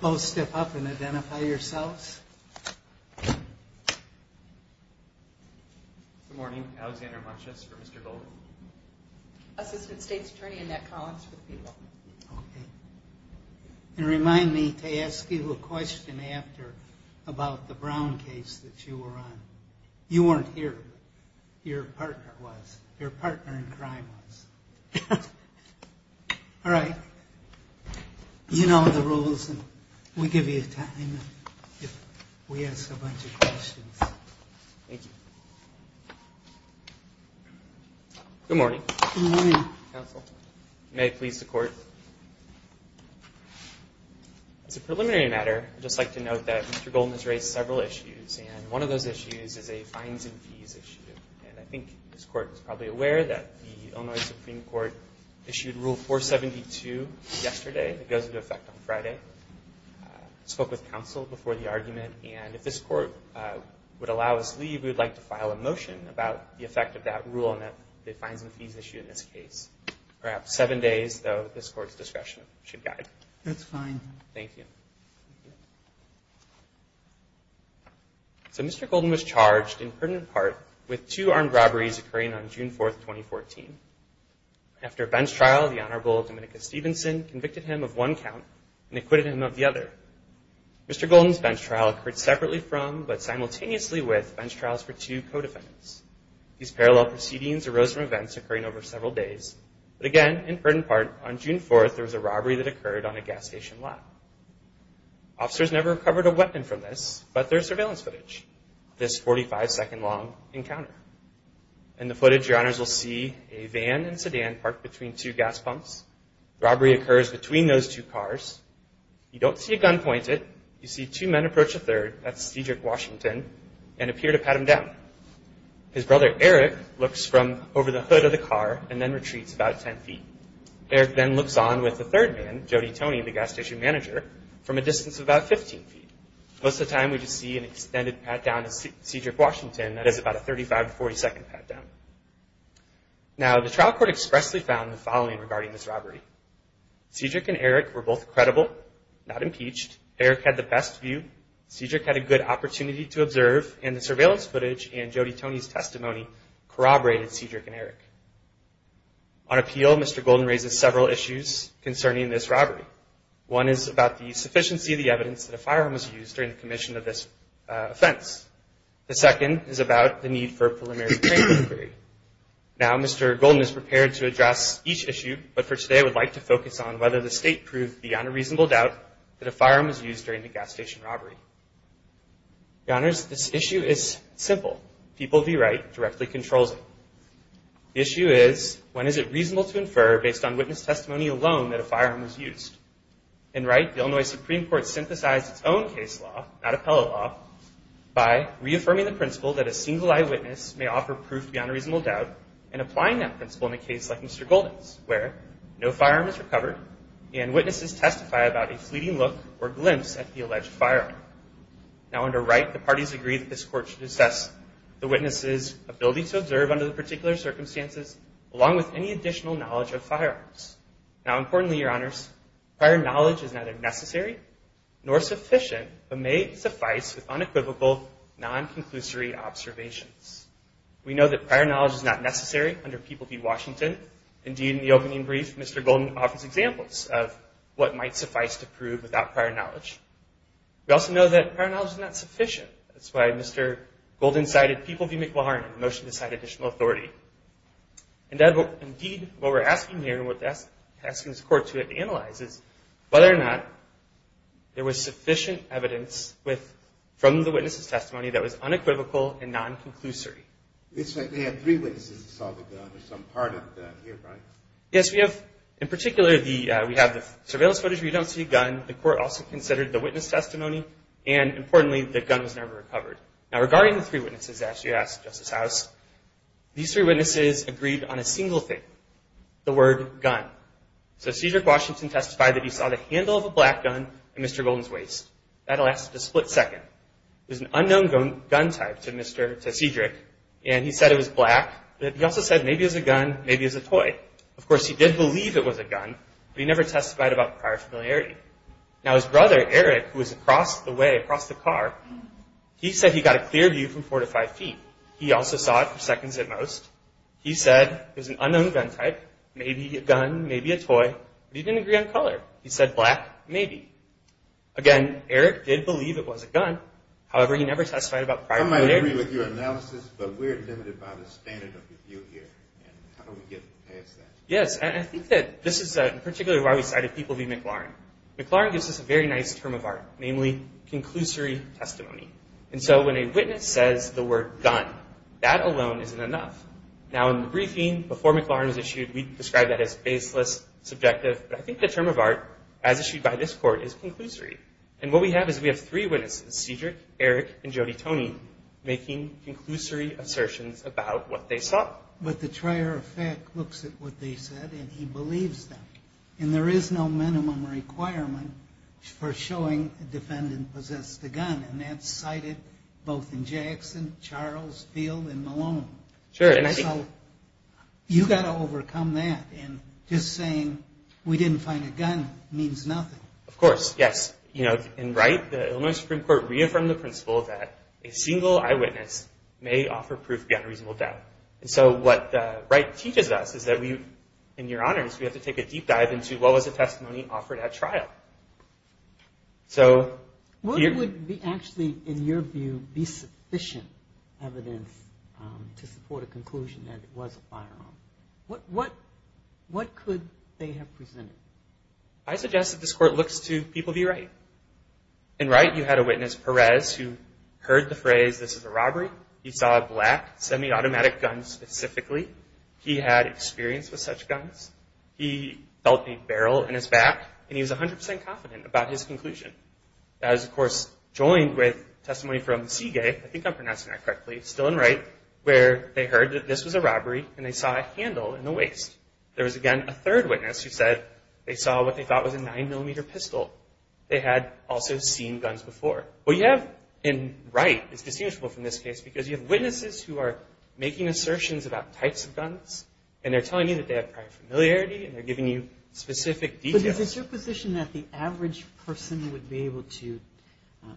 Both step up and identify yourselves. Good morning, Alexander Munches for Mr. Golden. Assistant State's Attorney in that college for the people. Okay. And remind me to ask you a question after about the Brown case that you were on. You weren't here. Your partner was. Your partner in crime was. All right. You know the rules and we give you time if we ask a bunch of questions. Thank you. Good morning. Good morning. May it please the court. As a preliminary matter, I'd just like to note that Mr. Golden has raised several issues and one of those issues is a fines and fees issue. And I think this court is probably aware that the Illinois Supreme Court issued Rule 472 yesterday. It goes into effect on Friday. I spoke with counsel before the argument and if this court would allow us to leave, we would like to file a motion about the effect of that rule on the fines and fees issue in this case. Perhaps seven days, though, this court's discretion should guide. That's fine. Thank you. So Mr. Golden was charged in pertinent part with two armed robberies occurring on June 4th, 2014. After a bench trial, the Honorable Dominica Stevenson convicted him of one count and acquitted him of the other. Mr. Golden's bench trial occurred separately from but simultaneously with bench trials for two co-defendants. These parallel proceedings arose from events occurring over several days. But again, in pertinent part, on June 4th, there was a robbery that occurred on a gas station lot. Officers never recovered a weapon from this, but there's surveillance footage of this 45-second long encounter. In the footage, your honors will see a van and sedan parked between two gas pumps. Robbery occurs between those two cars. You don't see a gun pointed. You see two men approach a third, that's Cedric Washington, and appear to pat him down. His brother, Eric, looks from over the hood of the car and then retreats about 10 feet. Eric then looks on with a third man, Jody Tony, the gas station manager, from a distance of about 15 feet. Most of the time, we just see an extended pat-down of Cedric Washington that is about a 35-40 second pat-down. Now, the trial court expressly found the following regarding this robbery. Cedric and Eric were both credible, not impeached, Eric had the best view, Cedric had a good opportunity to observe, and the surveillance footage and Jody Tony's testimony corroborated Cedric and Eric. On appeal, Mr. Golden raises several issues concerning this robbery. One is about the sufficiency of the evidence that a firearm was used during the commission of this offense. The second is about the need for a preliminary training inquiry. Now, Mr. Golden is prepared to address each issue, but for today, I would like to focus on whether the state proved beyond a reasonable doubt that a firearm was used during the gas station robbery. Your Honors, this issue is simple. People v. Wright directly controls it. The issue is, when is it reasonable to infer, based on witness testimony alone, that a firearm was used? In Wright, the Illinois Supreme Court synthesized its own case law, not appellate law, by reaffirming the principle that a single-eyed witness may offer proof beyond a reasonable doubt and applying that principle in a case like Mr. Golden's, where no firearm is recovered and witnesses testify about a fleeting look or glimpse at the alleged firearm. Now, under Wright, the parties agree that this Court should assess the witness's ability to observe under the particular circumstances, along with any additional knowledge of firearms. Now, importantly, Your Honors, prior knowledge is neither necessary nor sufficient, but may suffice with unequivocal, non-conclusory observations. We know that prior knowledge is not necessary under people v. Washington. Indeed, in the opening brief, Mr. Golden offers examples of what might suffice to prove without prior knowledge. We also know that prior knowledge is not sufficient. That's why Mr. Golden cited people v. McLaren in the motion to cite additional authority. Indeed, what we're asking here, and what we're asking this Court to analyze, is whether or not there was sufficient evidence from the witness's testimony that was unequivocal and non-conclusory. It's like they have three witnesses that saw the gun or some part of the gun here, right? Yes, we have, in particular, we have the surveillance footage where you don't see a gun. The Court also considered the witness testimony, and importantly, the gun was never recovered. Now, regarding the three witnesses, as you asked, Justice House, these three witnesses agreed on a single thing, the word gun. So, Cedric Washington testified that he saw the handle of a black gun in Mr. Golden's waist. That lasted a split second. It was an unknown gun type to Cedric, and he said it was black, but he also said maybe it was a gun, maybe it was a toy. Of course, he did believe it was a gun, but he never testified about prior familiarity. Now, his brother, Eric, who was across the way, across the car, he said he got a clear view from four to five feet. He also saw it for seconds at most. He said it was an unknown gun type, maybe a gun, maybe a toy, but he didn't agree on color. He said black, maybe. Again, Eric did believe it was a gun, however, he never testified about prior familiarity. I might agree with your analysis, but we're limited by the standard of review here, and how do we get past that? Yes, and I think that this is, in particular, why we cited People v. McLaurin. McLaurin gives us a very nice term of art, namely, conclusory testimony. And so, when a witness says the word gun, that alone isn't enough. Now, in the briefing, before McLaurin was issued, we described that as baseless, subjective, but I think the term of art, as issued by this Court, is conclusory. And what we have is we have three witnesses, Cedric, Eric, and Jody Toney, making conclusory assertions about what they saw. But the trier of fact looks at what they said, and he believes them. And there is no minimum requirement for showing a defendant possessed a gun, and that's cited both in Jackson, Charles, Field, and Malone. Sure, and I think... So, you've got to overcome that, and just saying, we didn't find a gun, means nothing. Of course, yes. You know, in Wright, the Illinois Supreme Court reaffirmed the principle that a single eyewitness may offer proof beyond reasonable doubt. And so, what Wright teaches us is that we, in your honors, we have to take a deep dive into what was the testimony offered at trial. So... What would actually, in your view, be sufficient evidence to support a conclusion that it was a firearm? What could they have presented? I suggest that this Court looks to people of the Wright. In Wright, you had a witness, Perez, who heard the phrase, this is a robbery. He saw a black, semi-automatic gun specifically. He had experience with such guns. He felt a barrel in his back, and he was 100% confident about his conclusion. I was, of course, joined with testimony from Seagate, I think I'm pronouncing that correctly, still in Wright, where they heard that this was a robbery, and they saw a handle in the waist. There was, again, a third witness who said they saw what they thought was a 9mm pistol. They had also seen guns before. What you have in Wright is distinguishable from this case, because you have witnesses who are making assertions about types of guns, and they're telling you that they have prior familiarity, and they're giving you specific details. But is it your position that the average person would be able to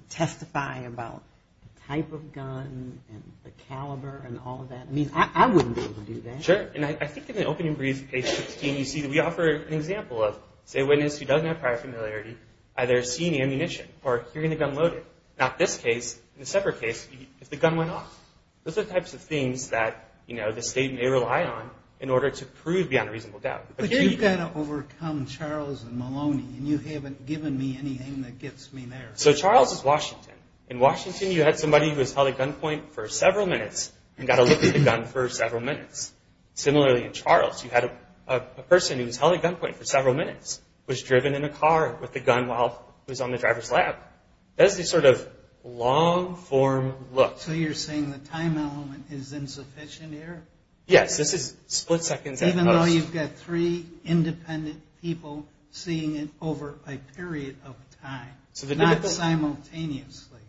testify about the type of gun and the caliber and all of that? I mean, I wouldn't be able to do that. Sure, and I think in the opening brief, page 16, you see that we offer an example of, say, a witness who doesn't have prior familiarity, either seeing ammunition or hearing the gun loaded. Now, in this case, in the separate case, if the gun went off. Those are types of things that the state may rely on in order to prove beyond reasonable doubt. But you've got to overcome Charles and Maloney, and you haven't given me anything that gets me there. So Charles is Washington. In Washington, you had somebody who was held at gunpoint for several minutes and got a look at the gun for several minutes. Similarly, in Charles, you had a person who was held at gunpoint for several minutes, was driven in a car with a gun while he was on the driver's lap. That's the sort of long-form look. So you're saying the time element is insufficient here? Yes, this is split seconds at most. Even though you've got three independent people seeing it over a period of time, not simultaneously.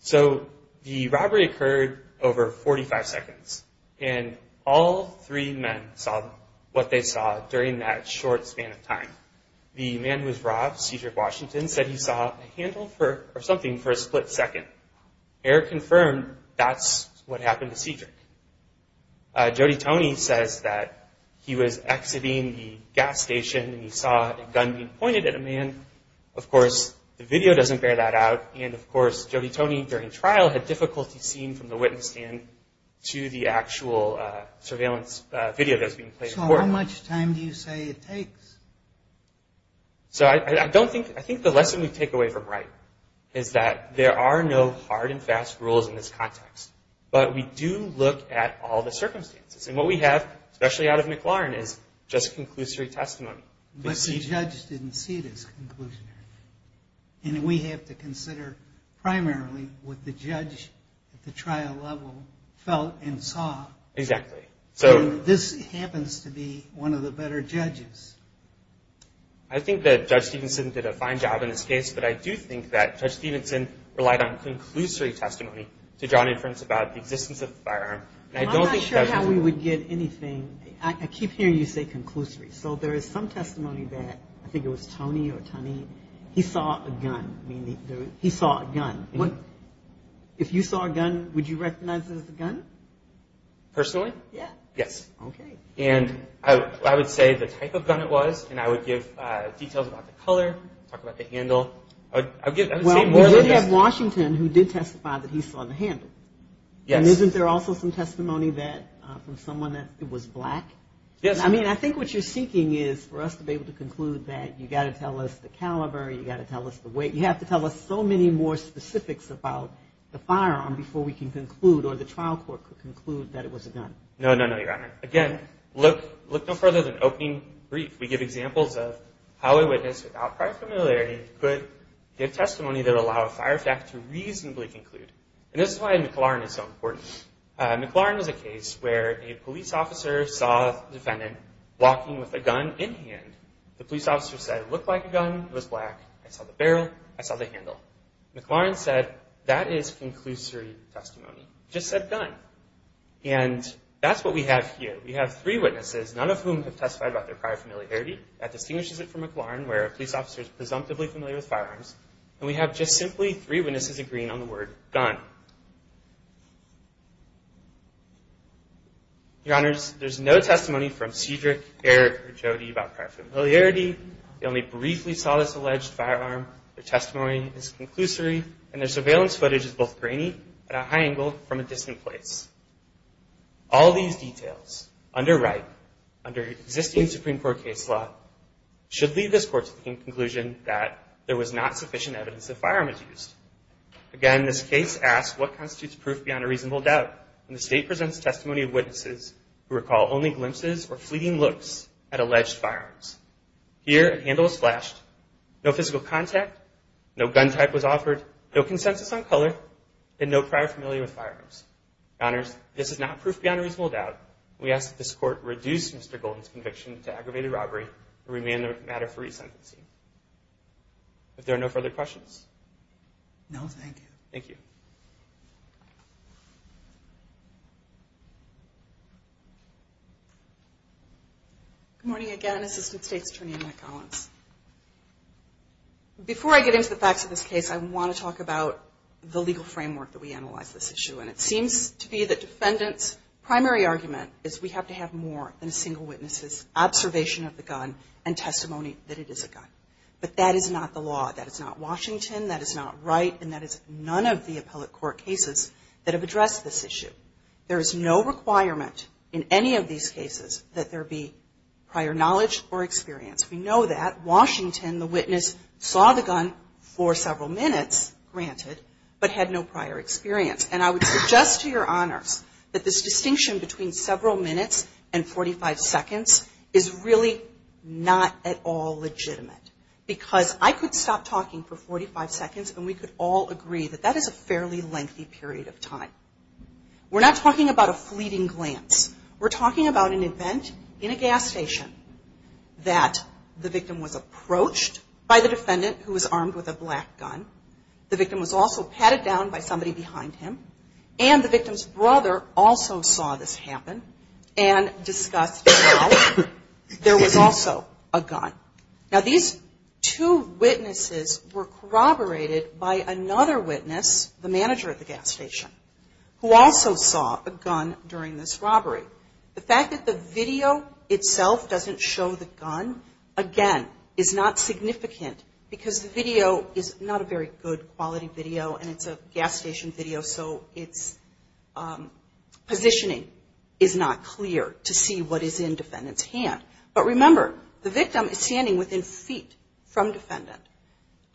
So the robbery occurred over 45 seconds, and all three men saw what they saw during that short span of time. The man who was robbed, Cedric Washington, said he saw a handle or something for a split second. Error confirmed, that's what happened to Cedric. Jody Toney says that he was exiting the gas station and he saw a gun being pointed at a man. Of course, the video doesn't bear that out, and of course Jody Toney during trial had difficulty seeing from the witness stand to the actual surveillance video that was being played in court. So how much time do you say it takes? So I think the lesson we take away from Wright is that there are no hard and fast rules in this context, but we do look at all the circumstances. And what we have, especially out of McLaurin, is just conclusory testimony. But the judge didn't see it as conclusionary. And we have to consider primarily what the judge at the trial level felt and saw. Exactly. And this happens to be one of the better judges. I think that Judge Stevenson did a fine job in this case, but I do think that Judge Stevenson relied on conclusory testimony to draw an inference about the existence of the firearm. I'm not sure how we would get anything. I keep hearing you say conclusory. So there is some testimony that I think it was Toney or Toney, he saw a gun. He saw a gun. If you saw a gun, would you recognize it as a gun? Personally? Yeah. Yes. Okay. And I would say the type of gun it was, and I would give details about the color, talk about the handle. Well, we did have Washington who did testify that he saw the handle. Yes. And isn't there also some testimony from someone that it was black? Yes. I mean, I think what you're seeking is for us to be able to conclude that you've got to tell us the caliber, you've got to tell us the weight, you have to tell us so many more specifics about the firearm before we can conclude or the trial court could conclude that it was a gun. No, no, no, Your Honor. Again, look no further than opening brief. We give examples of how a witness, without prior familiarity, could give testimony that would allow a fire fact to reasonably conclude. And this is why McLaren is so important. McLaren is a case where a police officer saw a defendant walking with a gun in hand. The police officer said, it looked like a gun. It was black. I saw the barrel. I saw the handle. McLaren said, that is conclusory testimony. It just said gun. And that's what we have here. We have three witnesses, none of whom have testified about their prior familiarity. That distinguishes it from McLaren where a police officer is presumptively familiar with firearms. And we have just simply three witnesses agreeing on the word gun. Your Honors, there's no testimony from Cedric, Eric, or Jody about prior familiarity. They only briefly saw this alleged firearm. Their testimony is conclusory, and their surveillance footage is both grainy at a high angle from a distant place. All these details under Wright, under existing Supreme Court case law, should lead this Court to the conclusion that there was not sufficient evidence that a firearm is used. Again, this case asks what constitutes proof beyond a reasonable doubt when the State presents testimony of witnesses who recall only glimpses or fleeting looks at alleged firearms. Here, a handle was flashed. No physical contact, no gun type was offered, no consensus on color, and no prior familiarity with firearms. Your Honors, this is not proof beyond a reasonable doubt. We ask that this Court reduce Mr. Golden's conviction to aggravated robbery and remand the matter for resentencing. If there are no further questions. No, thank you. Thank you. Good morning again. Assistant State's Attorney, Annette Collins. Before I get into the facts of this case, I want to talk about the legal framework that we analyzed this issue in. It seems to be the defendant's primary argument is we have to have more than a single witness' observation of the gun and testimony that it is a gun. But that is not the law. That is not Washington. That is not Wright. And that is none of the appellate court cases that have addressed this issue. There is no requirement in any of these cases that there be prior knowledge or experience. We know that. Washington, the witness, saw the gun for several minutes, granted, but had no prior experience. And I would suggest to your Honors that this distinction between several minutes and 45 seconds is really not at all legitimate. Because I could stop talking for 45 seconds and we could all agree that that is a fairly lengthy period of time. We're not talking about a fleeting glance. We're talking about an event in a gas station that the victim was approached by the defendant who was armed with a black gun. The victim was also patted down by somebody behind him. And the victim's brother also saw this happen and discussed how there was also a gun. Now, these two witnesses were corroborated by another witness, the manager of the gas station, who also saw a gun during this robbery. The fact that the video itself doesn't show the gun, again, is not significant. Because the video is not a very good quality video and it's a gas station video, so its positioning is not clear to see what is in defendant's hand. But remember, the victim is standing within feet from defendant.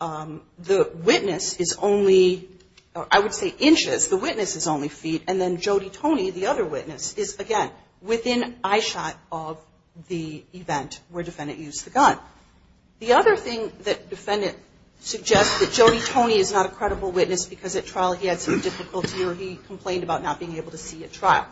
The witness is only, I would say, inches. The witness is only feet. And then Jody Toney, the other witness, is, again, within eyeshot of the event where defendant used the gun. The other thing that defendant suggests that Jody Toney is not a credible witness because at trial he had some difficulty or he complained about not being able to see at trial.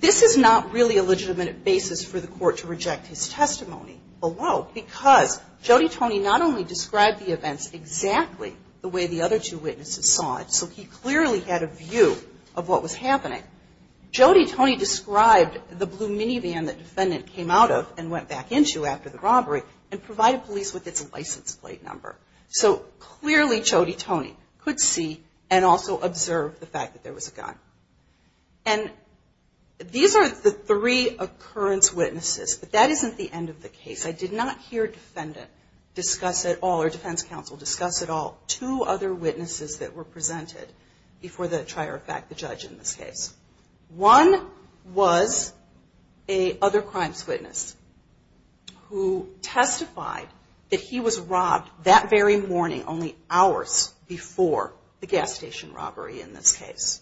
This is not really a legitimate basis for the court to reject his testimony below. Because Jody Toney not only described the events exactly the way the other two witnesses saw it, so he clearly had a view of what was happening. Jody Toney described the blue minivan that defendant came out of and went back into after the robbery and provided police with its license plate number. So clearly Jody Toney could see and also observe the fact that there was a gun. And these are the three occurrence witnesses. But that isn't the end of the case. I did not hear defendant discuss at all or defense counsel discuss at all two other witnesses that were presented before the trier of fact, the judge, in this case. One was a other crimes witness who testified that he was robbed that very morning, only hours before the gas station robbery in this case.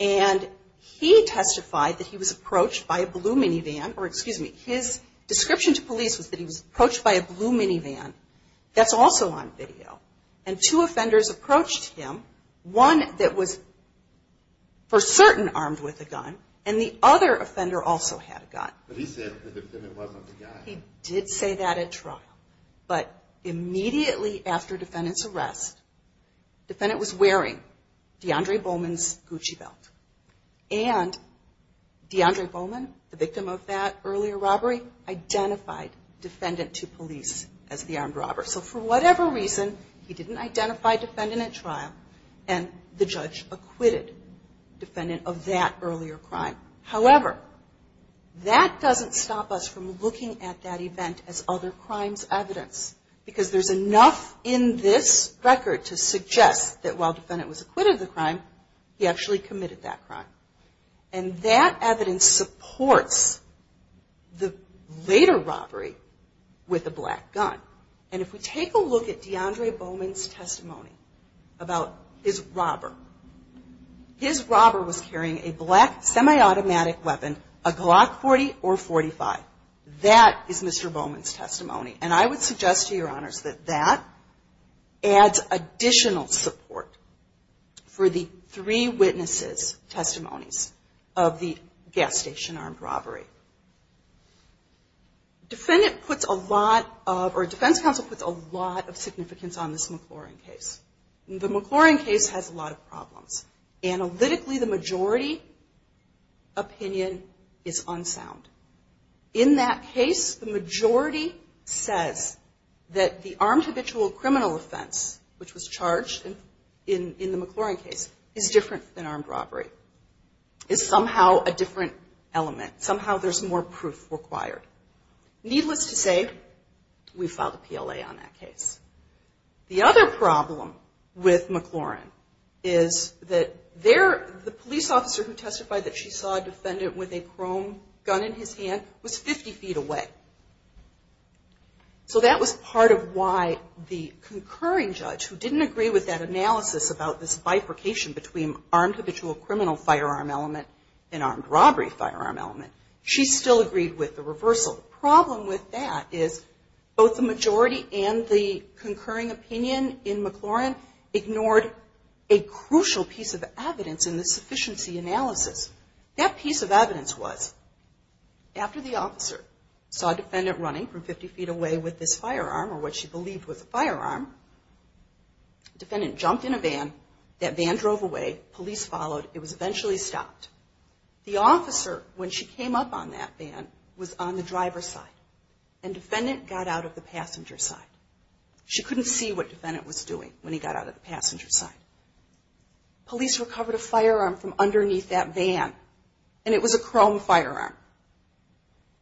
And he testified that he was approached by a blue minivan, or excuse me, his description to police was that he was approached by a blue minivan that's also on video. And two offenders approached him, one that was for certain armed with a gun, and the other offender also had a gun. He did say that at trial, but immediately after defendant's arrest, defendant was wearing DeAndre Bowman's Gucci belt. And DeAndre Bowman, the victim of that earlier robbery, identified defendant to police as the armed robber. So for whatever reason, he didn't identify defendant at trial, and the judge acquitted defendant of that earlier crime. However, that doesn't stop us from looking at that event as other crimes evidence. Because there's enough in this record to suggest that while defendant was acquitted of the crime, he actually committed that crime. And that evidence supports the later robbery with a black gun. And if we take a look at DeAndre Bowman's testimony about his robber, his robber was carrying a black semi-automatic weapon, a Glock 40 or 45. That is Mr. Bowman's testimony. And I would suggest to your honors that that adds additional support for the three witnesses' testimonies of the gas station armed robbery. Defendant puts a lot of, or defense counsel puts a lot of significance on this McLaurin case. The McLaurin case has a lot of problems. Analytically, the majority opinion is unsound. In that case, the majority says that the armed habitual criminal offense, which was charged in the McLaurin case, is different than armed robbery. It's somehow a different element. Somehow there's more proof required. Needless to say, we filed a PLA on that case. The other problem with McLaurin is that the police officer who testified that she saw a defendant with a chrome gun in his hand was 50 feet away. So that was part of why the concurring judge, who didn't agree with that analysis about this bifurcation between armed habitual criminal firearm element and armed robbery firearm element, she still agreed with the reversal. The problem with that is both the majority and the concurring opinion in McLaurin ignored a crucial piece of evidence in the sufficiency analysis. That piece of evidence was after the officer saw a defendant running from 50 feet away with this firearm, or what she believed was a firearm, defendant jumped in a van. That van drove away. Police followed. It was eventually stopped. The officer, when she came up on that van, was on the driver's side, and defendant got out of the passenger side. She couldn't see what defendant was doing when he got out of the passenger side. Police recovered a firearm from underneath that van, and it was a chrome firearm.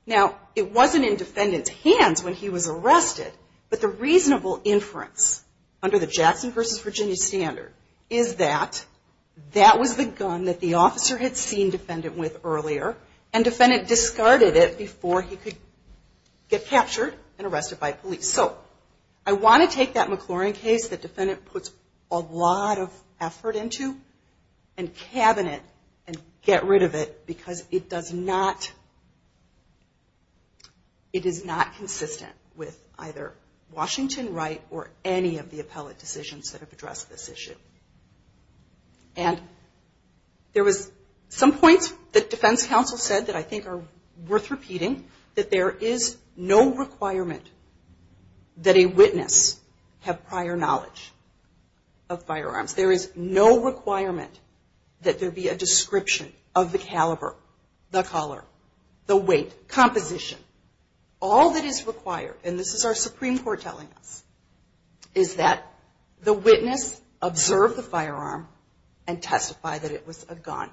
Now, it wasn't in defendant's hands when he was arrested, but the reasonable inference under the Jackson v. Virginia standard is that that was the gun that the officer had seen defendant with earlier, and defendant discarded it before he could get captured and arrested by police. So I want to take that McLaurin case that defendant puts a lot of effort into and cabin it and get rid of it because it does not, it is not consistent with either Washington right or any of the appellate decisions that have addressed this issue. And there was some points that defense counsel said that I think are worth repeating that there is no requirement that a witness have prior knowledge of firearms. There is no requirement that there be a description of the caliber, the color, the weight, composition. All that is required, and this is our Supreme Court telling us, is that the witness observe the firearm and testify that it was a gun.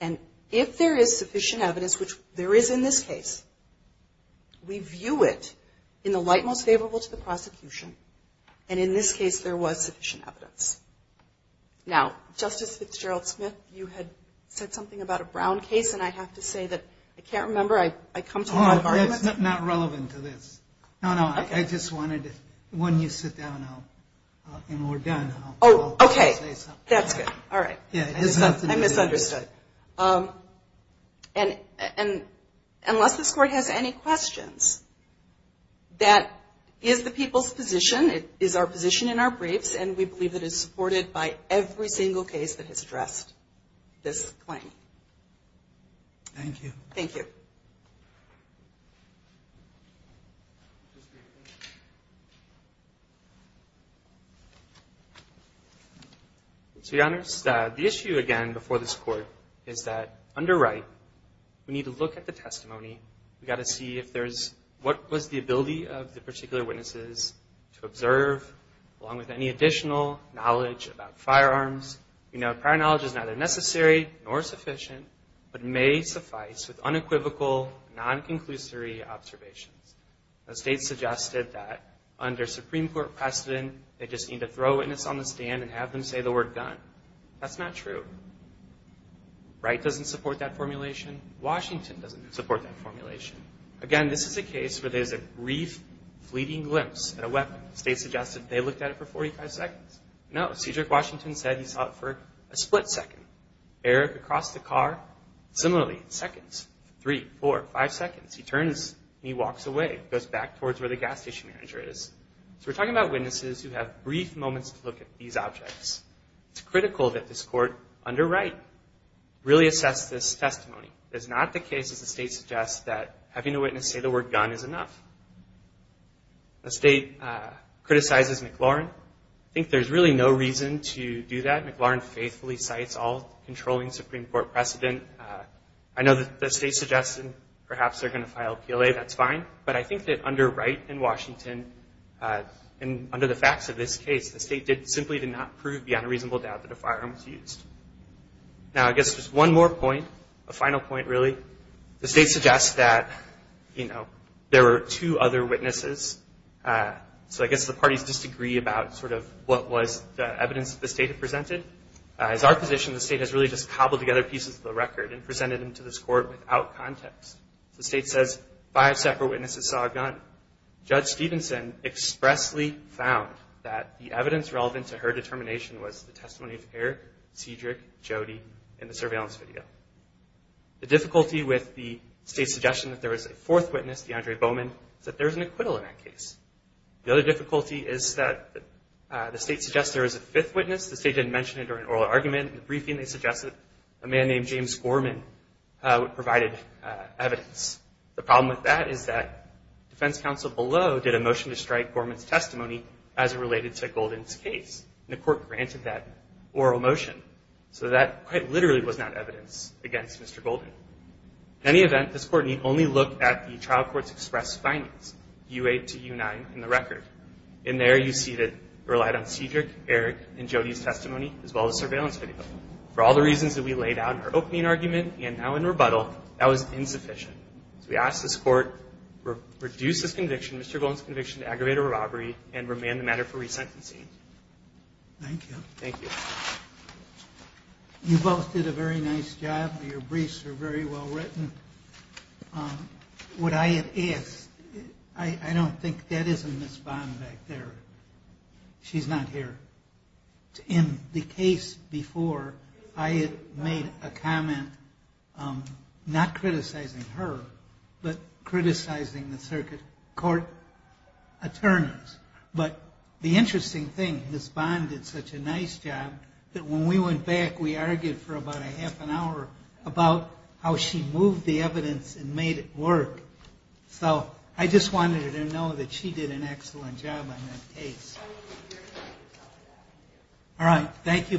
And if there is sufficient evidence, which there is in this case, we view it in the light most favorable to the prosecution, and in this case there was sufficient evidence. Now, Justice Fitzgerald-Smith, you had said something about a Brown case and I have to say that I can't remember. I come to my arguments. Oh, it's not relevant to this. No, no, I just wanted to, when you sit down and we're done, I'll say something. Oh, okay. That's good. All right. I misunderstood. And unless this Court has any questions, that is the people's position. It is our position in our briefs, and we believe it is supported by every single case that has addressed this claim. Thank you. Thank you. So, Your Honors, the issue, again, before this Court, is that under Wright, we need to look at the testimony. We've got to see if there's, what was the ability of the particular witnesses to observe, along with any additional knowledge about firearms. We know prior knowledge is neither necessary nor sufficient, but may suffice with unequivocal, non-conclusory observations. The State suggested that under Supreme Court precedent, they just need to throw a witness on the stand and have them say the word gun. That's not true. Wright doesn't support that formulation. Washington doesn't support that formulation. Again, this is a case where there's a brief, fleeting glimpse at a weapon. The State suggested they looked at it for 45 seconds. No, Cedric Washington said he saw it for a split second. Eric, across the car, similarly, seconds. Three, four, five seconds. He turns, and he walks away. He goes back towards where the gas station manager is. So we're talking about witnesses who have brief moments to look at these objects. It's critical that this Court, under Wright, really assess this testimony. It is not the case, as the State suggests, that having a witness say the word gun is enough. The State criticizes McLaurin. I think there's really no reason to do that. McLaurin faithfully cites all controlling Supreme Court precedent. I know that the State suggested perhaps they're going to file a PLA. That's fine. But I think that under Wright and Washington, and under the facts of this case, the State simply did not prove beyond a reasonable doubt that a firearm was used. Now, I guess just one more point. A final point, really. The State suggests that, you know, there were two other witnesses. So I guess the parties disagree about sort of what was the evidence the State had presented. As our position, the State has really just cobbled together pieces of the record and presented them to this Court without context. The State says five separate witnesses saw a gun. Judge Stevenson expressly found that the evidence relevant to her determination was the testimony of Eric, Cedric, Jody, and the surveillance video. The difficulty with the State's suggestion that there was a fourth witness, DeAndre Bowman, is that there is an acquittal in that case. The other difficulty is that the State suggests there is a fifth witness. The State didn't mention it during oral argument. In the briefing, they suggested a man named James Gorman provided evidence. The problem with that is that defense counsel below did a motion to strike Gorman's testimony as it related to Golden's case. And the Court granted that oral motion. So that quite literally was not evidence against Mr. Golden. In any event, this Court need only look at the trial court's express findings, U8 to U9 in the record. In there, you see that it relied on Cedric, Eric, and Jody's testimony as well as surveillance video. For all the reasons that we laid out in our opening argument and now in rebuttal, that was insufficient. So we asked this Court to reduce this conviction, Mr. Golden's conviction, to aggravated robbery and remand the matter for resentencing. Thank you. Thank you. You both did a very nice job. Your briefs are very well written. What I had asked, I don't think that is a Ms. Bond back there. She's not here. In the case before, I had made a comment, not criticizing her, but criticizing the circuit court. But the interesting thing, Ms. Bond did such a nice job that when we went back, we argued for about a half an hour about how she moved the evidence and made it work. So I just wanted her to know that she did an excellent job on that case. All right. Thank you both.